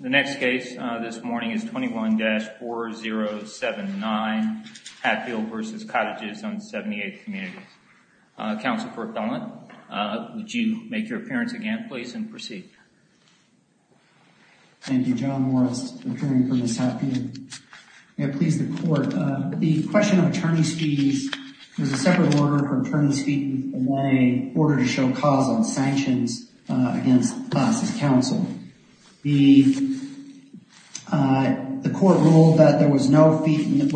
The next case this morning is 21-4079 Hatfield v. Cottages on 78th Community. Counsel for Appellant, would you make your appearance again please and proceed. Thank you, John Morris, Attorney for Ms. Hatfield. May it please the Court, the question of attorney's fees, there's a separate order for attorney's fee order to show cause on sanctions against us as counsel. The Court ruled that there were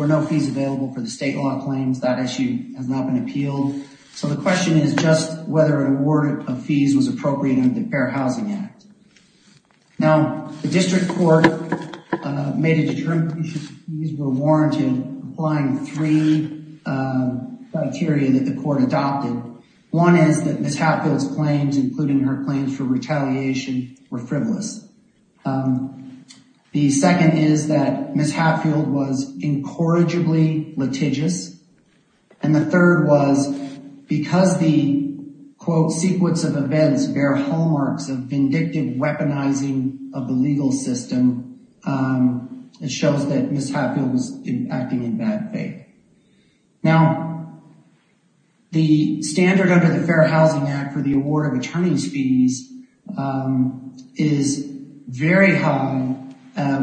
no fees available for the state law claims, that issue has not been appealed. So the question is just whether an award of fees was appropriate under the Fair Housing Act. Now the District Court made a determination that fees were warranted applying three criteria that the Court adopted. One is that Ms. Hatfield's claims, including her were frivolous. The second is that Ms. Hatfield was incorrigibly litigious. And the third was because the quote sequence of events bear hallmarks of vindictive weaponizing of the legal system, it shows that Ms. Hatfield was acting in bad faith. Now the standard under the Fair Housing Act for attorney's fees is very high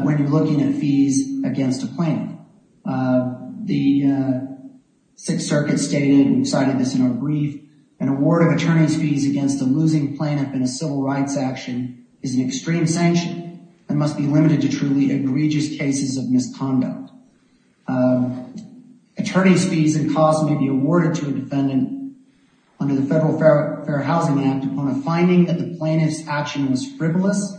when you're looking at fees against a plaintiff. The Sixth Circuit stated and cited this in our brief, an award of attorney's fees against a losing plaintiff in a civil rights action is an extreme sanction and must be limited to truly egregious cases of misconduct. Attorney's fees and costs may be awarded to a defendant under the Federal Fair Housing Act on a finding that the plaintiff's action was frivolous,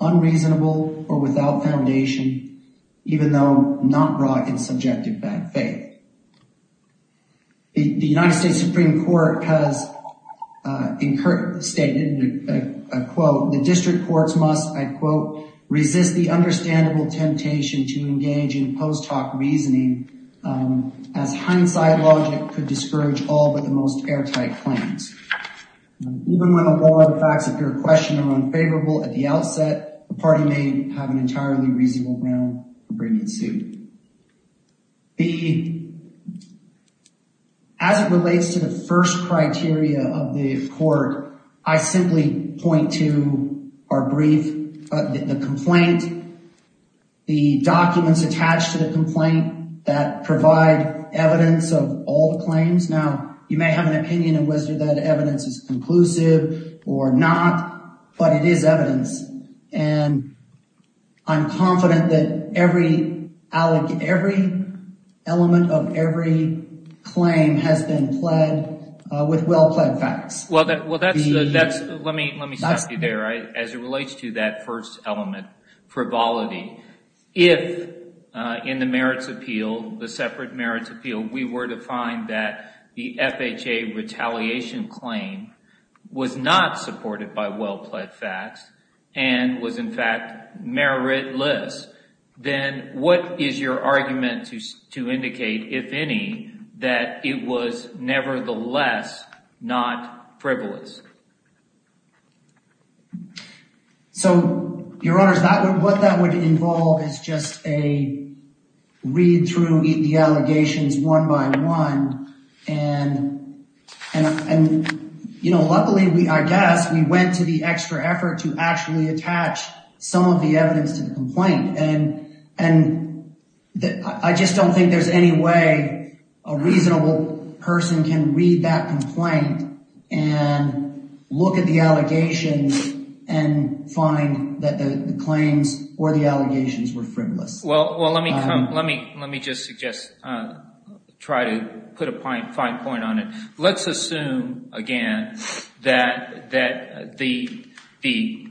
unreasonable, or without foundation, even though not brought in subjective bad faith. The United States Supreme Court has stated a quote, the District Courts must, I quote, resist the understandable temptation to engage in post hoc reasoning as hindsight logic could most airtight claims. Even when the law of the facts of your question are unfavorable at the outset, the party may have an entirely reasonable ground for bringing suit. As it relates to the first criteria of the court, I simply point to our brief, the complaint, the documents attached to the complaint that provide evidence of all the claims. Now, you may have an opinion of whether that evidence is conclusive or not, but it is evidence and I'm confident that every element of every claim has been pled with well-pled facts. Well, let me stop you there. As it relates to that element, frivolity, if in the merits appeal, the separate merits appeal, we were to find that the FHA retaliation claim was not supported by well-pled facts and was in fact meritless, then what is your argument to indicate, if any, that it was nevertheless not frivolous? So, Your Honors, what that would involve is just a read through the allegations one by one, and, you know, luckily, I guess, we went to the extra effort to actually attach some of the evidence to the complaint. And I just don't think there's any way a reasonable person can read that look at the allegations and find that the claims or the allegations were frivolous. Well, let me just suggest, try to put a fine point on it. Let's assume, again, that the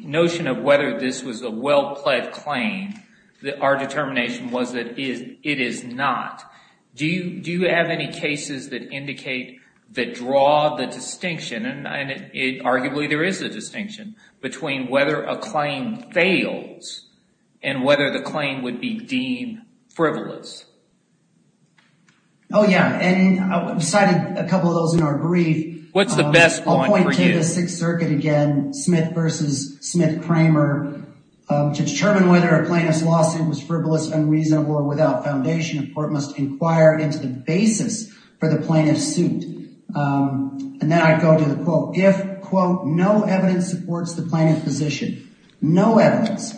notion of whether this was a well-pled claim, our determination was that it is not. Do you have any cases that indicate, that draw the distinction, and arguably there is a distinction, between whether a claim fails and whether the claim would be deemed frivolous? Oh, yeah. And I cited a couple of those in our brief. What's the best one for you? I'll point to the Sixth Circuit again, Smith v. Smith-Kramer, to determine whether a plaintiff's suit is frivolous. And then I go to the quote. If, quote, no evidence supports the plaintiff's position, no evidence,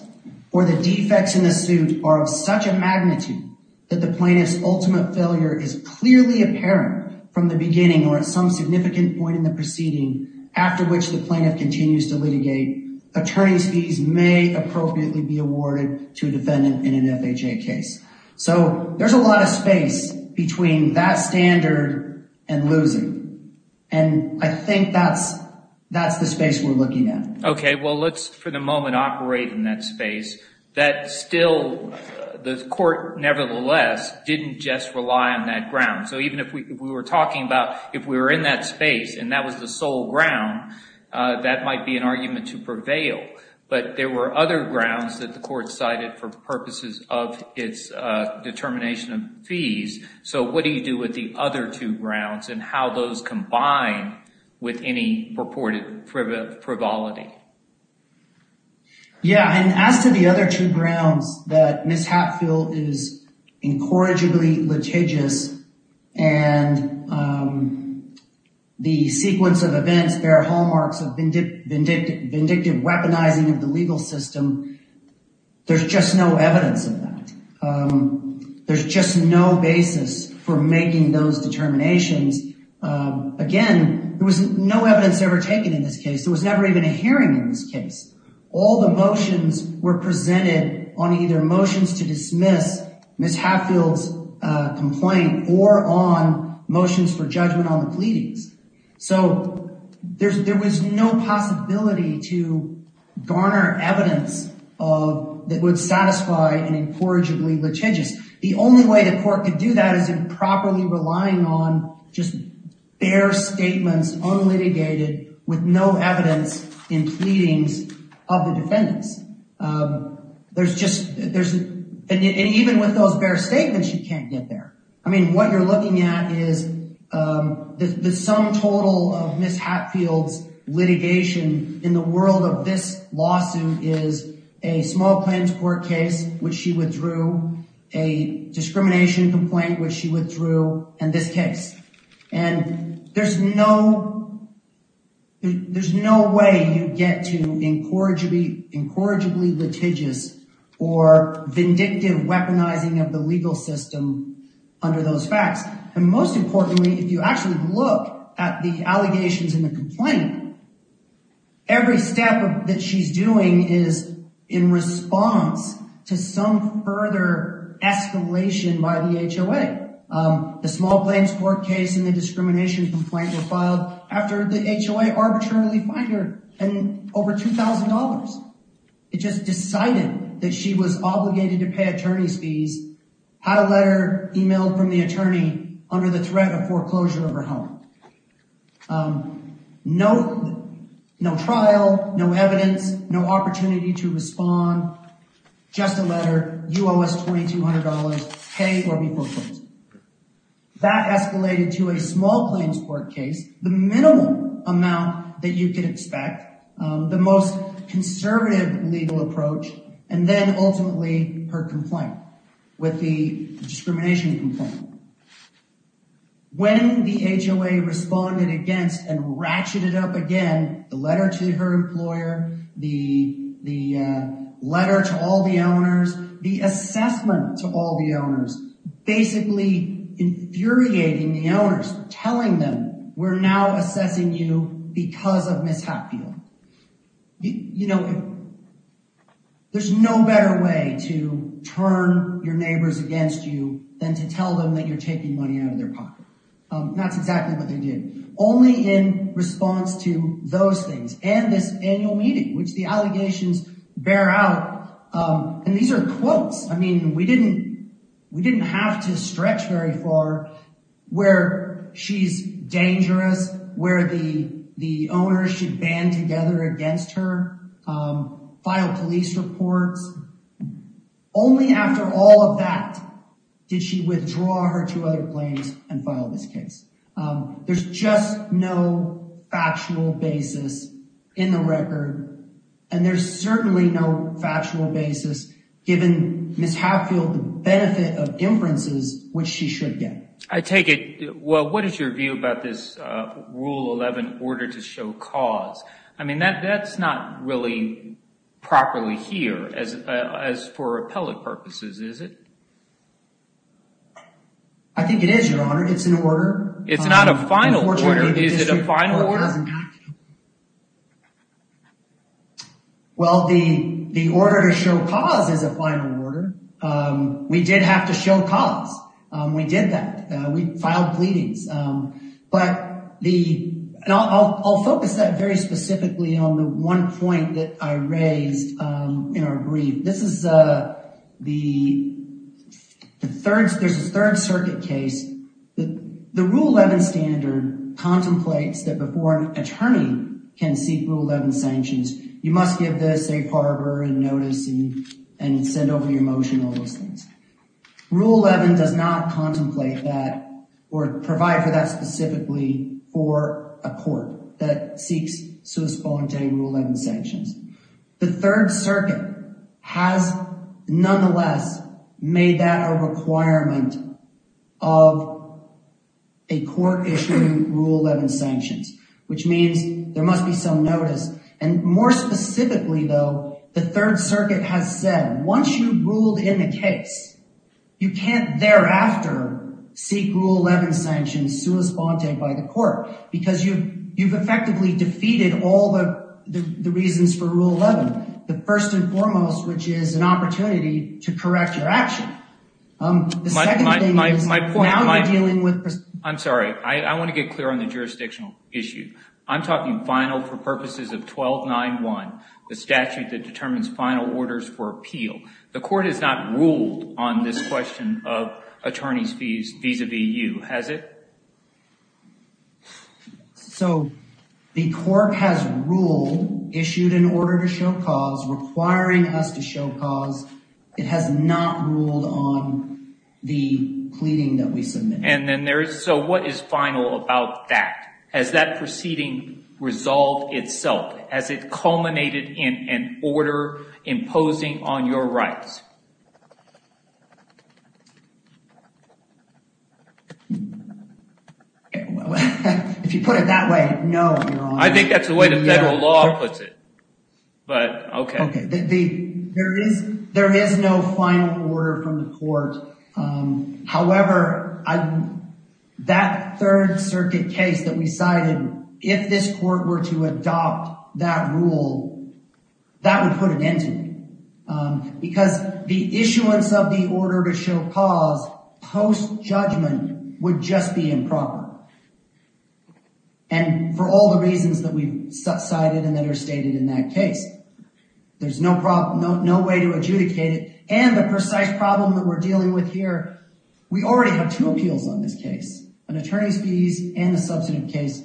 or the defects in the suit are of such a magnitude that the plaintiff's ultimate failure is clearly apparent from the beginning or at some significant point in the proceeding after which the plaintiff continues to litigate, attorney's fees may appropriately be awarded to a defendant in an FHA case. So there's a lot of space between that standard and losing. And I think that's the space we're looking at. Okay. Well, let's, for the moment, operate in that space. That still, the court, nevertheless, didn't just rely on that ground. So even if we were talking about if we were in that space and that was the sole ground, that might be an argument to prevail. But there were other grounds that the court cited for purposes of its determination of fees. So what do you do with the other two grounds and how those combine with any purported frivolity? Yeah. And as to the other two grounds that Ms. Hatfield is incorrigibly litigious and the sequence of events bear hallmarks of vindictive weaponizing of the legal system, there's just no evidence of that. There's just no basis for making those determinations. Again, there was no evidence ever taken in this case. There was never even a hearing in this case. All the motions were presented on either motions to dismiss Ms. Hatfield's complaint or on motions for judgment on the pleadings. So there was no possibility to garner evidence that would satisfy an incorrigibly litigious. The only way the court could do that is improperly relying on just bare statements, unlitigated, with no evidence in pleadings of the defendants. There's just, and even with those bare statements, you can't get there. I mean, what you're looking at is the sum total of Ms. Hatfield's litigation in the world of this lawsuit is a small claims court case, which she withdrew, a discrimination complaint, which she withdrew, and this case. And there's no way you get to incorrigibly litigious or vindictive weaponizing of the legal system under those facts. And most importantly, if you actually look at the allegations in the complaint, every step that she's doing is in response to some further escalation by the HOA. The small claims court case and the discrimination complaint were filed after the HOA arbitrarily fined her over $2,000. It just decided that she was obligated to pay attorney's fees, had a letter emailed from the attorney under the threat of foreclosure of her home. No trial, no evidence, no opportunity to respond, just a letter, you owe us $2,200, pay or be foreclosed. That escalated to a small claims court case, the minimal amount that you could expect, the most conservative legal approach, and then ultimately her complaint with the discrimination complaint. When the HOA responded against and ratcheted up again, the letter to her employer, the letter to all the owners, the assessment to all the owners, basically infuriating the owners, telling them, we're now assessing you because of Ms. Hatfield. There's no better way to turn your neighbors against you than to tell them that you're taking money out of their pocket. That's exactly what they did. Only in response to those things and this annual meeting, which the allegations bear out. And these are quotes. We didn't have to stretch very far where she's dangerous, where the owners should band together against her, file police reports. Only after all of that did she withdraw her two other claims and file this case. There's just no factional basis in the record. And there's certainly no factual basis given Ms. Hatfield the benefit of inferences, which she should get. I take it. Well, what is your view about this rule 11 order to show cause? I mean, that's not really properly here as for appellate purposes, is it? I think it is, your honor. It's an order. It's not a final order. Is it a final order? Well, the order to show cause is a final order. We did have to show cause. We did that. We filed pleadings. I'll focus that very specifically on the one point that I raised in our brief. There's a third circuit case. The rule 11 standard contemplates that before an attorney can seek rule 11 sanctions, you must give the safe harbor and notice and send over your motion, all those things. Rule 11 does not contemplate that or provide for that specifically for a court that seeks sui sponte rule 11 sanctions. The third circuit has nonetheless made that a requirement of a court issuing rule 11 sanctions, which means there must be some notice. And more specifically, though, the third circuit has said, once you ruled in the case, you can't thereafter seek rule 11 sanctions sui sponte by the court because you've effectively defeated all the reasons for rule 11, the first and foremost, which is an opportunity to correct your action. The second thing is now you're dealing with... I'm sorry. I want to get clear on the jurisdictional issue. I'm talking final for purposes of 1291, the statute that determines final orders for appeal. The court has not ruled on this question of attorney's fees vis-a-vis you, has it? So the court has ruled, issued an order to show cause, requiring us to show cause. It has not ruled on the pleading that we submit. And then there is... So what is final about that? Has that proceeding resolved itself? Has it culminated in an order imposing on your rights? If you put it that way, no, Your Honor. I think that's the way the federal law puts it, but okay. There is no final order from the court. However, that third circuit case that we cited, if this court were to adopt that rule, that would put an end to it. Because the issuance of the order to show cause post-judgment would just be improper. And for all the reasons that we've cited and that are stated in that case, there's no way to adjudicate it. And the precise problem that we're dealing with here, we already have two appeals on this case, an attorney's fees and a substantive case.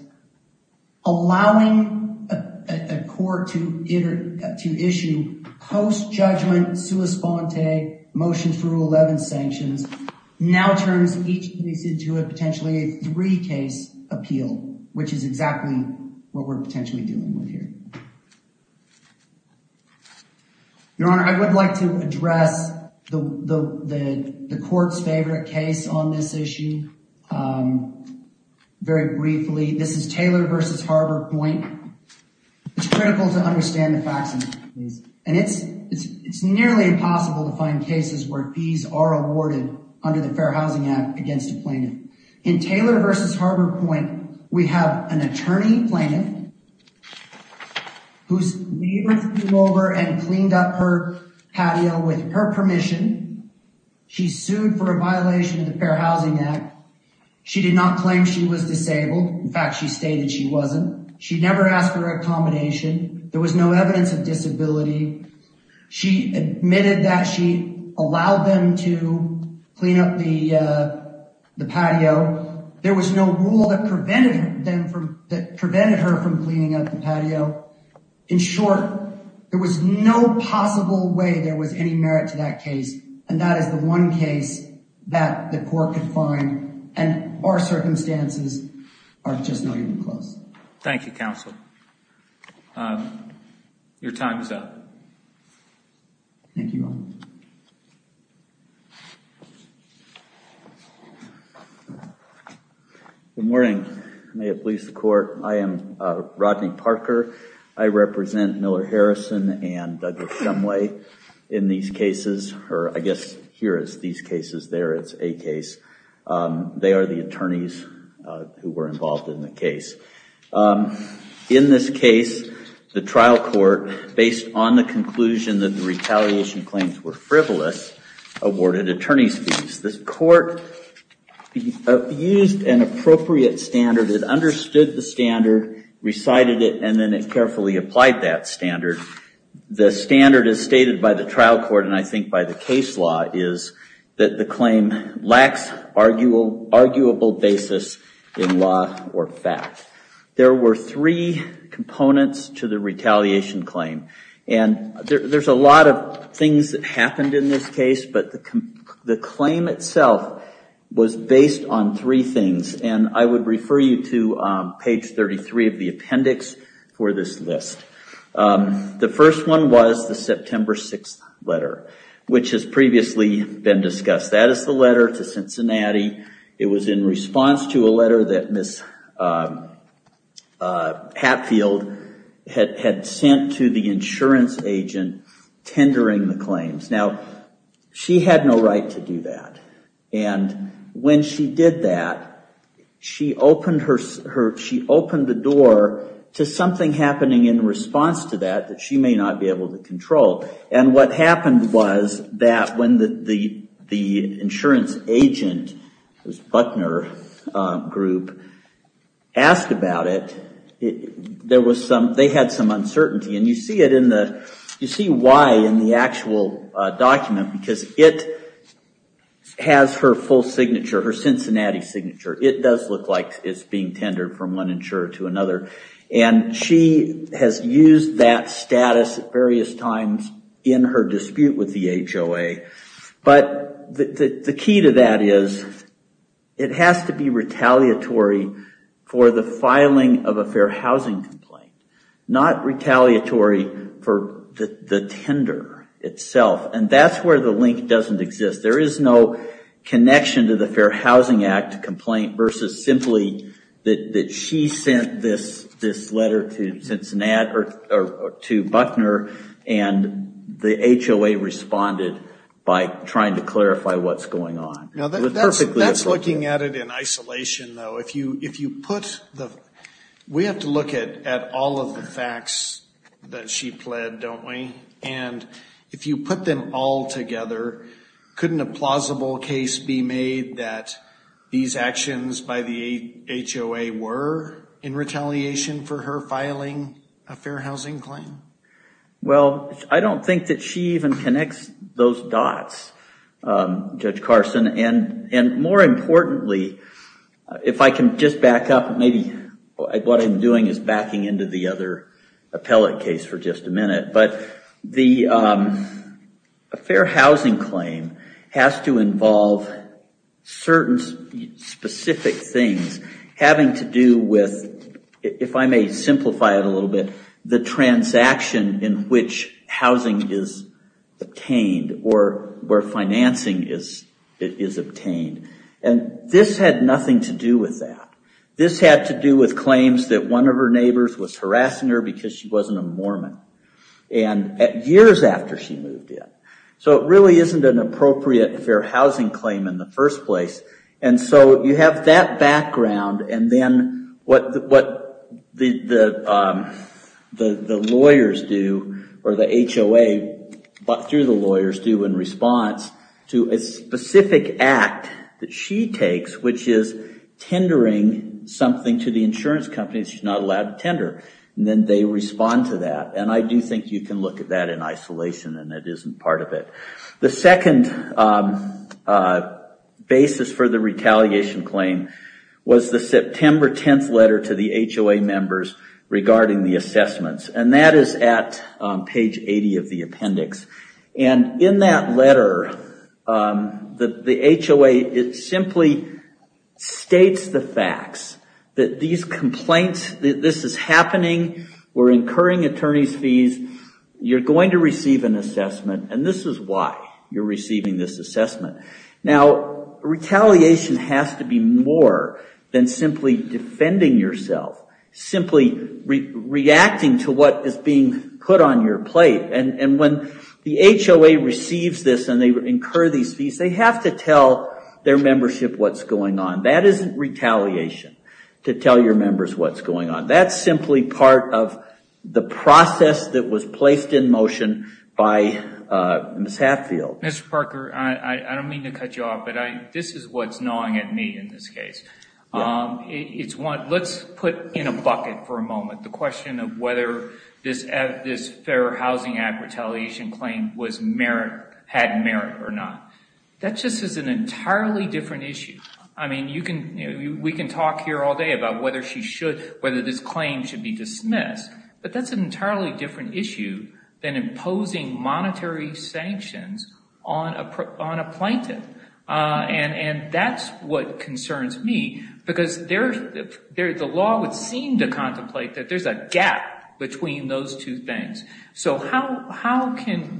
Allowing a court to issue post-judgment, sua sponte, motion for rule 11 sanctions, now turns each case into a potentially a three-case appeal, which is exactly what we're potentially dealing with here. Your Honor, I would like to address the court's favorite case on this issue very briefly. This is Taylor v. Harbor Point. It's critical to understand the facts of this. And it's nearly impossible to find cases where fees are awarded under the Fair Housing Act against a plaintiff. In Taylor v. Harbor Point, we have an attorney plaintiff. Whose neighbor came over and cleaned up her patio with her permission. She sued for a violation of the Fair Housing Act. She did not claim she was disabled. In fact, she stated she wasn't. She never asked for a combination. There was no evidence of disability. She admitted that she allowed them to clean up the patio. There was no rule that prevented her from cleaning up the patio. In short, there was no possible way there was any merit to that case. And that is the one case that the court could find. And our circumstances are just not even close. Thank you, counsel. Your time is up. Thank you, Your Honor. Good morning. May it please the court. I am Rodney Parker. I represent Miller-Harrison and Douglas Sumway in these cases. Or I guess here is these cases, there is a case. They are the attorneys who were involved in the case. In this case, the trial court, based on the conclusion that the retaliation claims were frivolous, awarded attorney's fees. The court used an appropriate standard. It understood the standard, recited it, and then it carefully applied that standard. The standard is stated by the trial court, and I think by the case law, is that the claim lacks arguable basis in law or fact. There were three components to the retaliation claim. And there's a lot of things that happened in this case. But the claim itself was based on three things. And I would refer you to page 33 of the appendix for this list. The first one was the September 6th letter, which has previously been discussed. That is the letter to Cincinnati. It was in response to a letter that Ms. Hatfield had sent to the insurance agent tendering the claims. Now, she had no right to do that. And when she did that, she opened the door to something happening in response to that, that she may not be able to control. And what happened was that when the insurance agent, this Buckner group, asked about it, they had some uncertainty. And you see why in the actual document, because it has her full signature, her Cincinnati signature. It does look like it's being tendered from one insurer to another. And she has used that status at various times in her dispute with the HOA. But the key to that is it has to be retaliatory for the filing of a fair housing complaint. Not retaliatory for the tender itself. And that's where the link doesn't exist. There is no connection to the Fair Housing Act complaint versus simply that she sent this letter to Buckner and the HOA responded by trying to clarify what's going on. That's looking at it in isolation, though. We have to look at all of the facts that she pled, don't we? And if you put them all together, couldn't a plausible case be made that these actions by the HOA were in retaliation for her filing a fair housing claim? Well, I don't think that she even connects those dots, Judge Carson. And more importantly, if I can just back up. Maybe what I'm doing is backing into the other appellate case for just a minute. But the fair housing claim has to involve certain specific things having to do with, if I may simplify it a little bit, the transaction in which housing is obtained or where financing is obtained. And this had nothing to do with that. This had to do with claims that one of her neighbors was harassing her because she wasn't a Mormon years after she moved in. So it really isn't an appropriate fair housing claim in the first place. And so you have that background. And then what the lawyers do or the HOA, through the lawyers, do in response to a specific act that she takes, which is tendering something to the insurance companies she's not allowed to tender. And then they respond to that. And I do think you can look at that in isolation. And it isn't part of it. The second basis for the retaliation claim was the September 10th letter to the HOA members regarding the assessments. And that is at page 80 of the appendix. And in that letter, the HOA, it simply states the facts. That these complaints, this is happening. We're incurring attorney's fees. You're going to receive an assessment. And this is why you're receiving this assessment. Now, retaliation has to be more than simply defending yourself, simply reacting to what is being put on your plate. And when the HOA receives this and they incur these fees, they have to tell their membership what's going on. That isn't retaliation, to tell your members what's going on. That's simply part of the process that was placed in motion by Ms. Hatfield. Mr. Parker, I don't mean to cut you off. But this is what's gnawing at me in this case. Let's put in a bucket for a moment the question of whether this Fair Housing Act retaliation claim had merit or not. That just is an entirely different issue. I mean, we can talk here all day about whether this claim should be dismissed. But that's an entirely different issue than imposing monetary sanctions on a plaintiff. And that's what concerns me. Because the law would seem to contemplate that there's a gap between those two things. So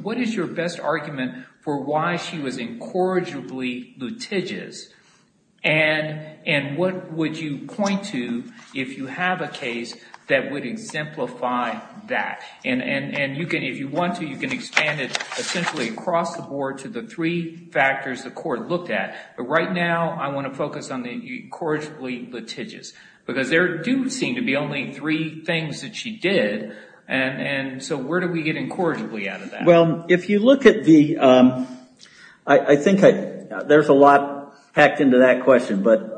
what is your best argument for why she was incorrigibly litigious? And what would you point to if you have a case that would exemplify that? And if you want to, you can expand it essentially across the board to the three factors the court looked at. But right now, I want to focus on the incorrigibly litigious. Because there do seem to be only three things that she did. And so where do we get incorrigibly out of that? If you look at the, I think there's a lot packed into that question. But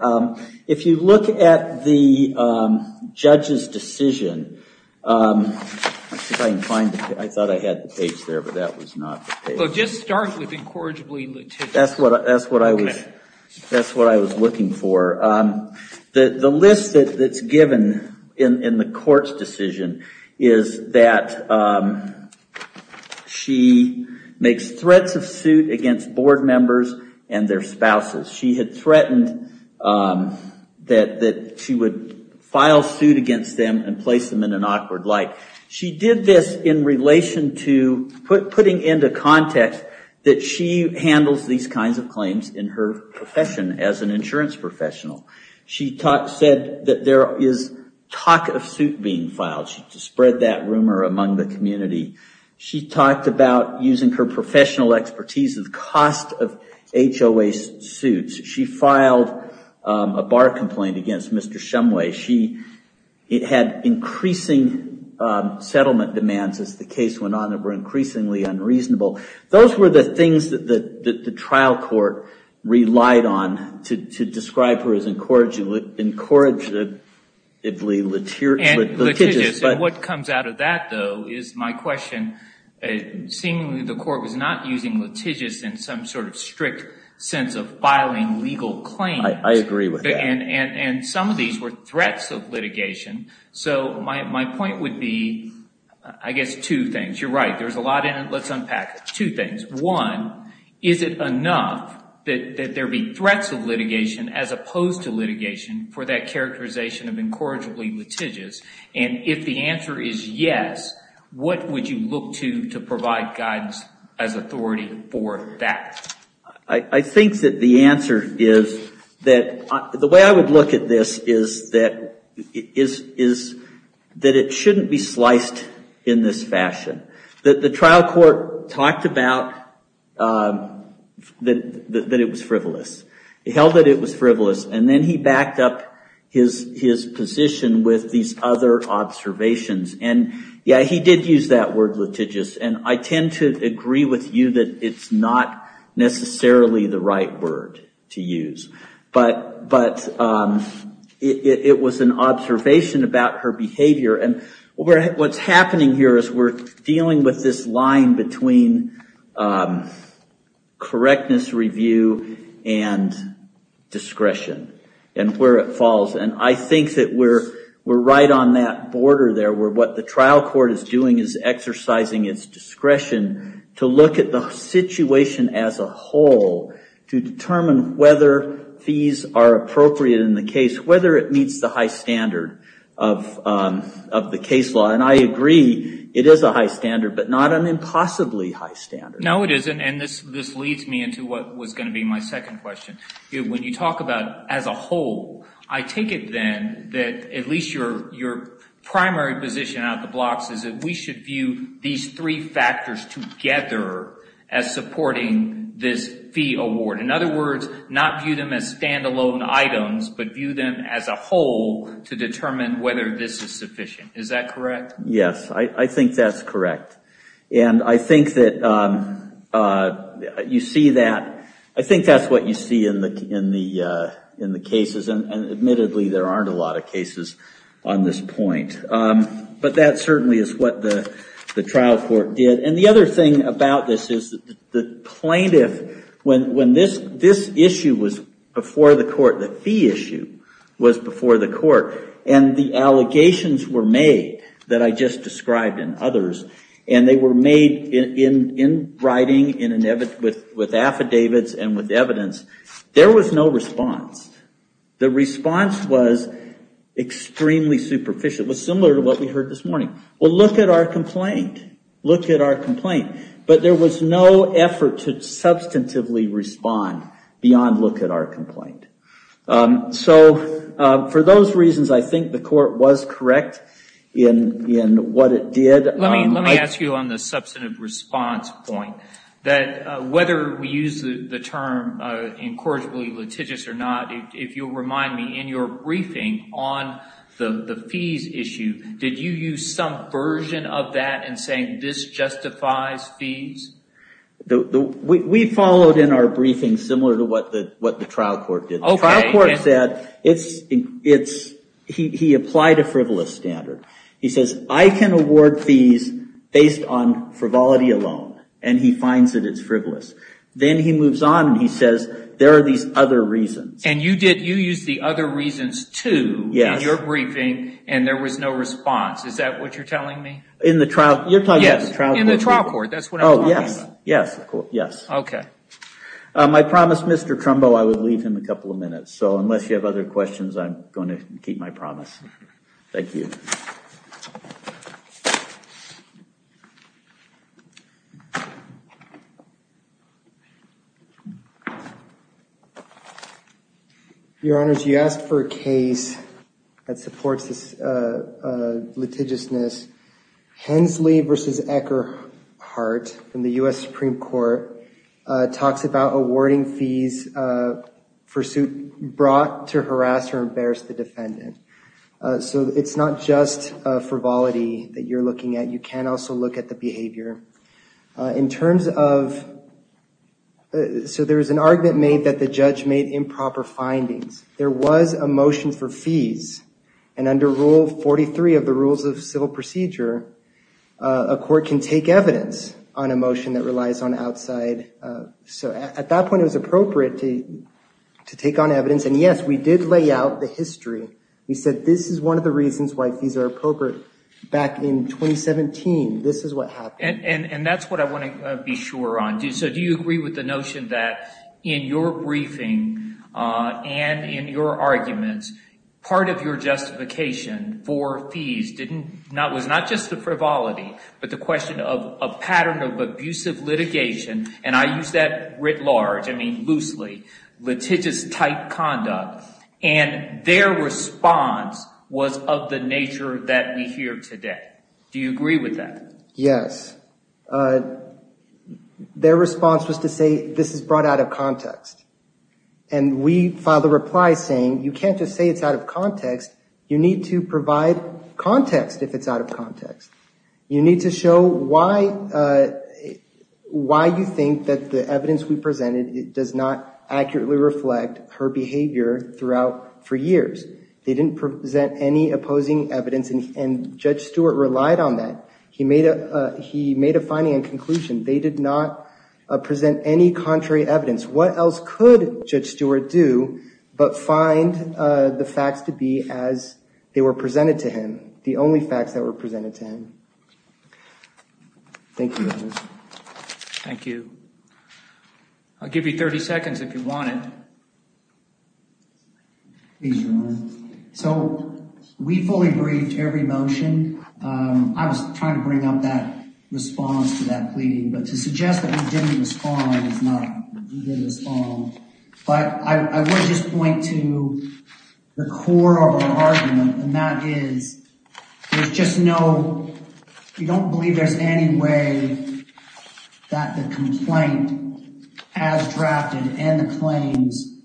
if you look at the judge's decision, I can't find it. I thought I had the page there. But that was not the page. So just start with incorrigibly litigious. That's what I was looking for. The list that's given in the court's decision is that she makes threats of suit against board members and their spouses. She had threatened that she would file suit against them and place them in an awkward light. She did this in relation to putting into context that she handles these kinds of claims in her profession as an insurance professional. She said that there is talk of suit being filed. She spread that rumor among the community. She talked about using her professional expertise of the cost of HOA suits. She filed a bar complaint against Mr. Shumway. She had increasing settlement demands as the case went on that were increasingly unreasonable. Those were the things that the trial court relied on to describe her as incorrigibly litigious. And what comes out of that, though, is my question. Seemingly, the court was not using litigious in some sort of strict sense of filing legal claims. I agree with that. And some of these were threats of litigation. So my point would be, I guess, two things. You're right. There's a lot in it. Let's unpack it. One, is it enough that there be threats of litigation as opposed to litigation for that characterization of incorrigibly litigious? And if the answer is yes, what would you look to to provide guidance as authority for that? I think that the answer is that the way I would look at this is that it shouldn't be sliced in this fashion. The trial court talked about that it was frivolous. It held that it was frivolous. And then he backed up his position with these other observations. And yeah, he did use that word litigious. And I tend to agree with you that it's not necessarily the right word to use. But it was an observation about her behavior. And what's happening here is we're dealing with this line between correctness review and discretion and where it falls. And I think that we're right on that border there where what the trial court is doing is exercising its discretion to look at the situation as a whole to determine whether fees are appropriate in the case, whether it meets the high standard of the case law. And I agree it is a high standard, but not an impossibly high standard. No, it isn't. And this leads me into what was going to be my second question. When you talk about as a whole, I take it then that at least your primary position out of the blocks is that we should view these three factors together as supporting this fee award. In other words, not view them as standalone items, but view them as a whole to determine whether this is sufficient. Is that correct? Yes, I think that's correct. And I think that you see that. I think that's what you see in the cases. And admittedly, there aren't a lot of cases on this point. But that certainly is what the trial court did. And the other thing about this is the plaintiff, when this issue was before the court, the fee issue was before the court, and the allegations were made that I just described and others, and they were made in writing, with affidavits, and with evidence, there was no response. The response was extremely superficial. It was similar to what we heard this morning. Well, look at our complaint. Look at our complaint. But there was no effort to substantively respond beyond look at our complaint. So for those reasons, I think the court was correct in what it did. Let me ask you on the substantive response point, that whether we use the term incorrigibly litigious or not, if you'll remind me, in your briefing on the fees issue, did you use some version of that in saying this justifies fees? We followed in our briefing similar to what the trial court did. The trial court said he applied a frivolous standard. He says, I can award fees based on frivolity alone. And he finds that it's frivolous. Then he moves on and he says, there are these other reasons. And you used the other reasons, too, in your briefing, and there was no response. Is that what you're telling me? In the trial? You're talking about the trial court. In the trial court, that's what I'm talking about. Yes, yes, yes. OK. I promised Mr. Trumbo I would leave him a couple of minutes. So unless you have other questions, I'm going to keep my promise. Thank you. Your Honors, you asked for a case that supports this litigiousness, Hensley v. Eckerhart from the US Supreme Court talks about awarding fees for suit brought to harass or embarrass the defendant. So it's not just frivolity that you're looking at. You can also look at the behavior. So there is an argument made that the judge made improper findings. There was a motion for fees. And under Rule 43 of the Rules of Civil Procedure, a court can take evidence on a motion that relies on outside. So at that point, it was appropriate to take on evidence. And yes, we did lay out the history. We said this is one of the reasons why fees are appropriate back in 2017. This is what happened. And that's what I want to be sure on. So do you agree with the notion that in your briefing and in your arguments, part of your justification for fees was not just the frivolity, but the question of a pattern of abusive litigation. And I use that writ large. I mean loosely litigious type conduct. And their response was of the nature that we hear today. Do you agree with that? Yes. Their response was to say this is brought out of context. And we filed a reply saying you can't just say it's out of context. You need to provide context if it's out of context. You need to show why you think that the evidence we presented does not accurately reflect her behavior throughout for years. They didn't present any opposing evidence. And Judge Stewart relied on that. He made a finding and conclusion. They did not present any contrary evidence. What else could Judge Stewart do but find the facts to be as they were presented to the only facts that were presented to him? Thank you. Thank you. I'll give you 30 seconds if you want it. So we fully briefed every motion. I was trying to bring up that response to that pleading. But to suggest that we didn't respond is not, we didn't respond. But I would just point to the core of our argument. And that is, there's just no, you don't believe there's any way that the complaint as drafted and the claims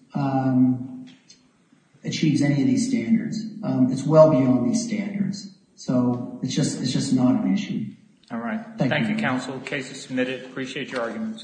achieves any of these standards. It's well beyond these standards. So it's just not an issue. All right. Thank you, counsel. Case is submitted. Appreciate your argument.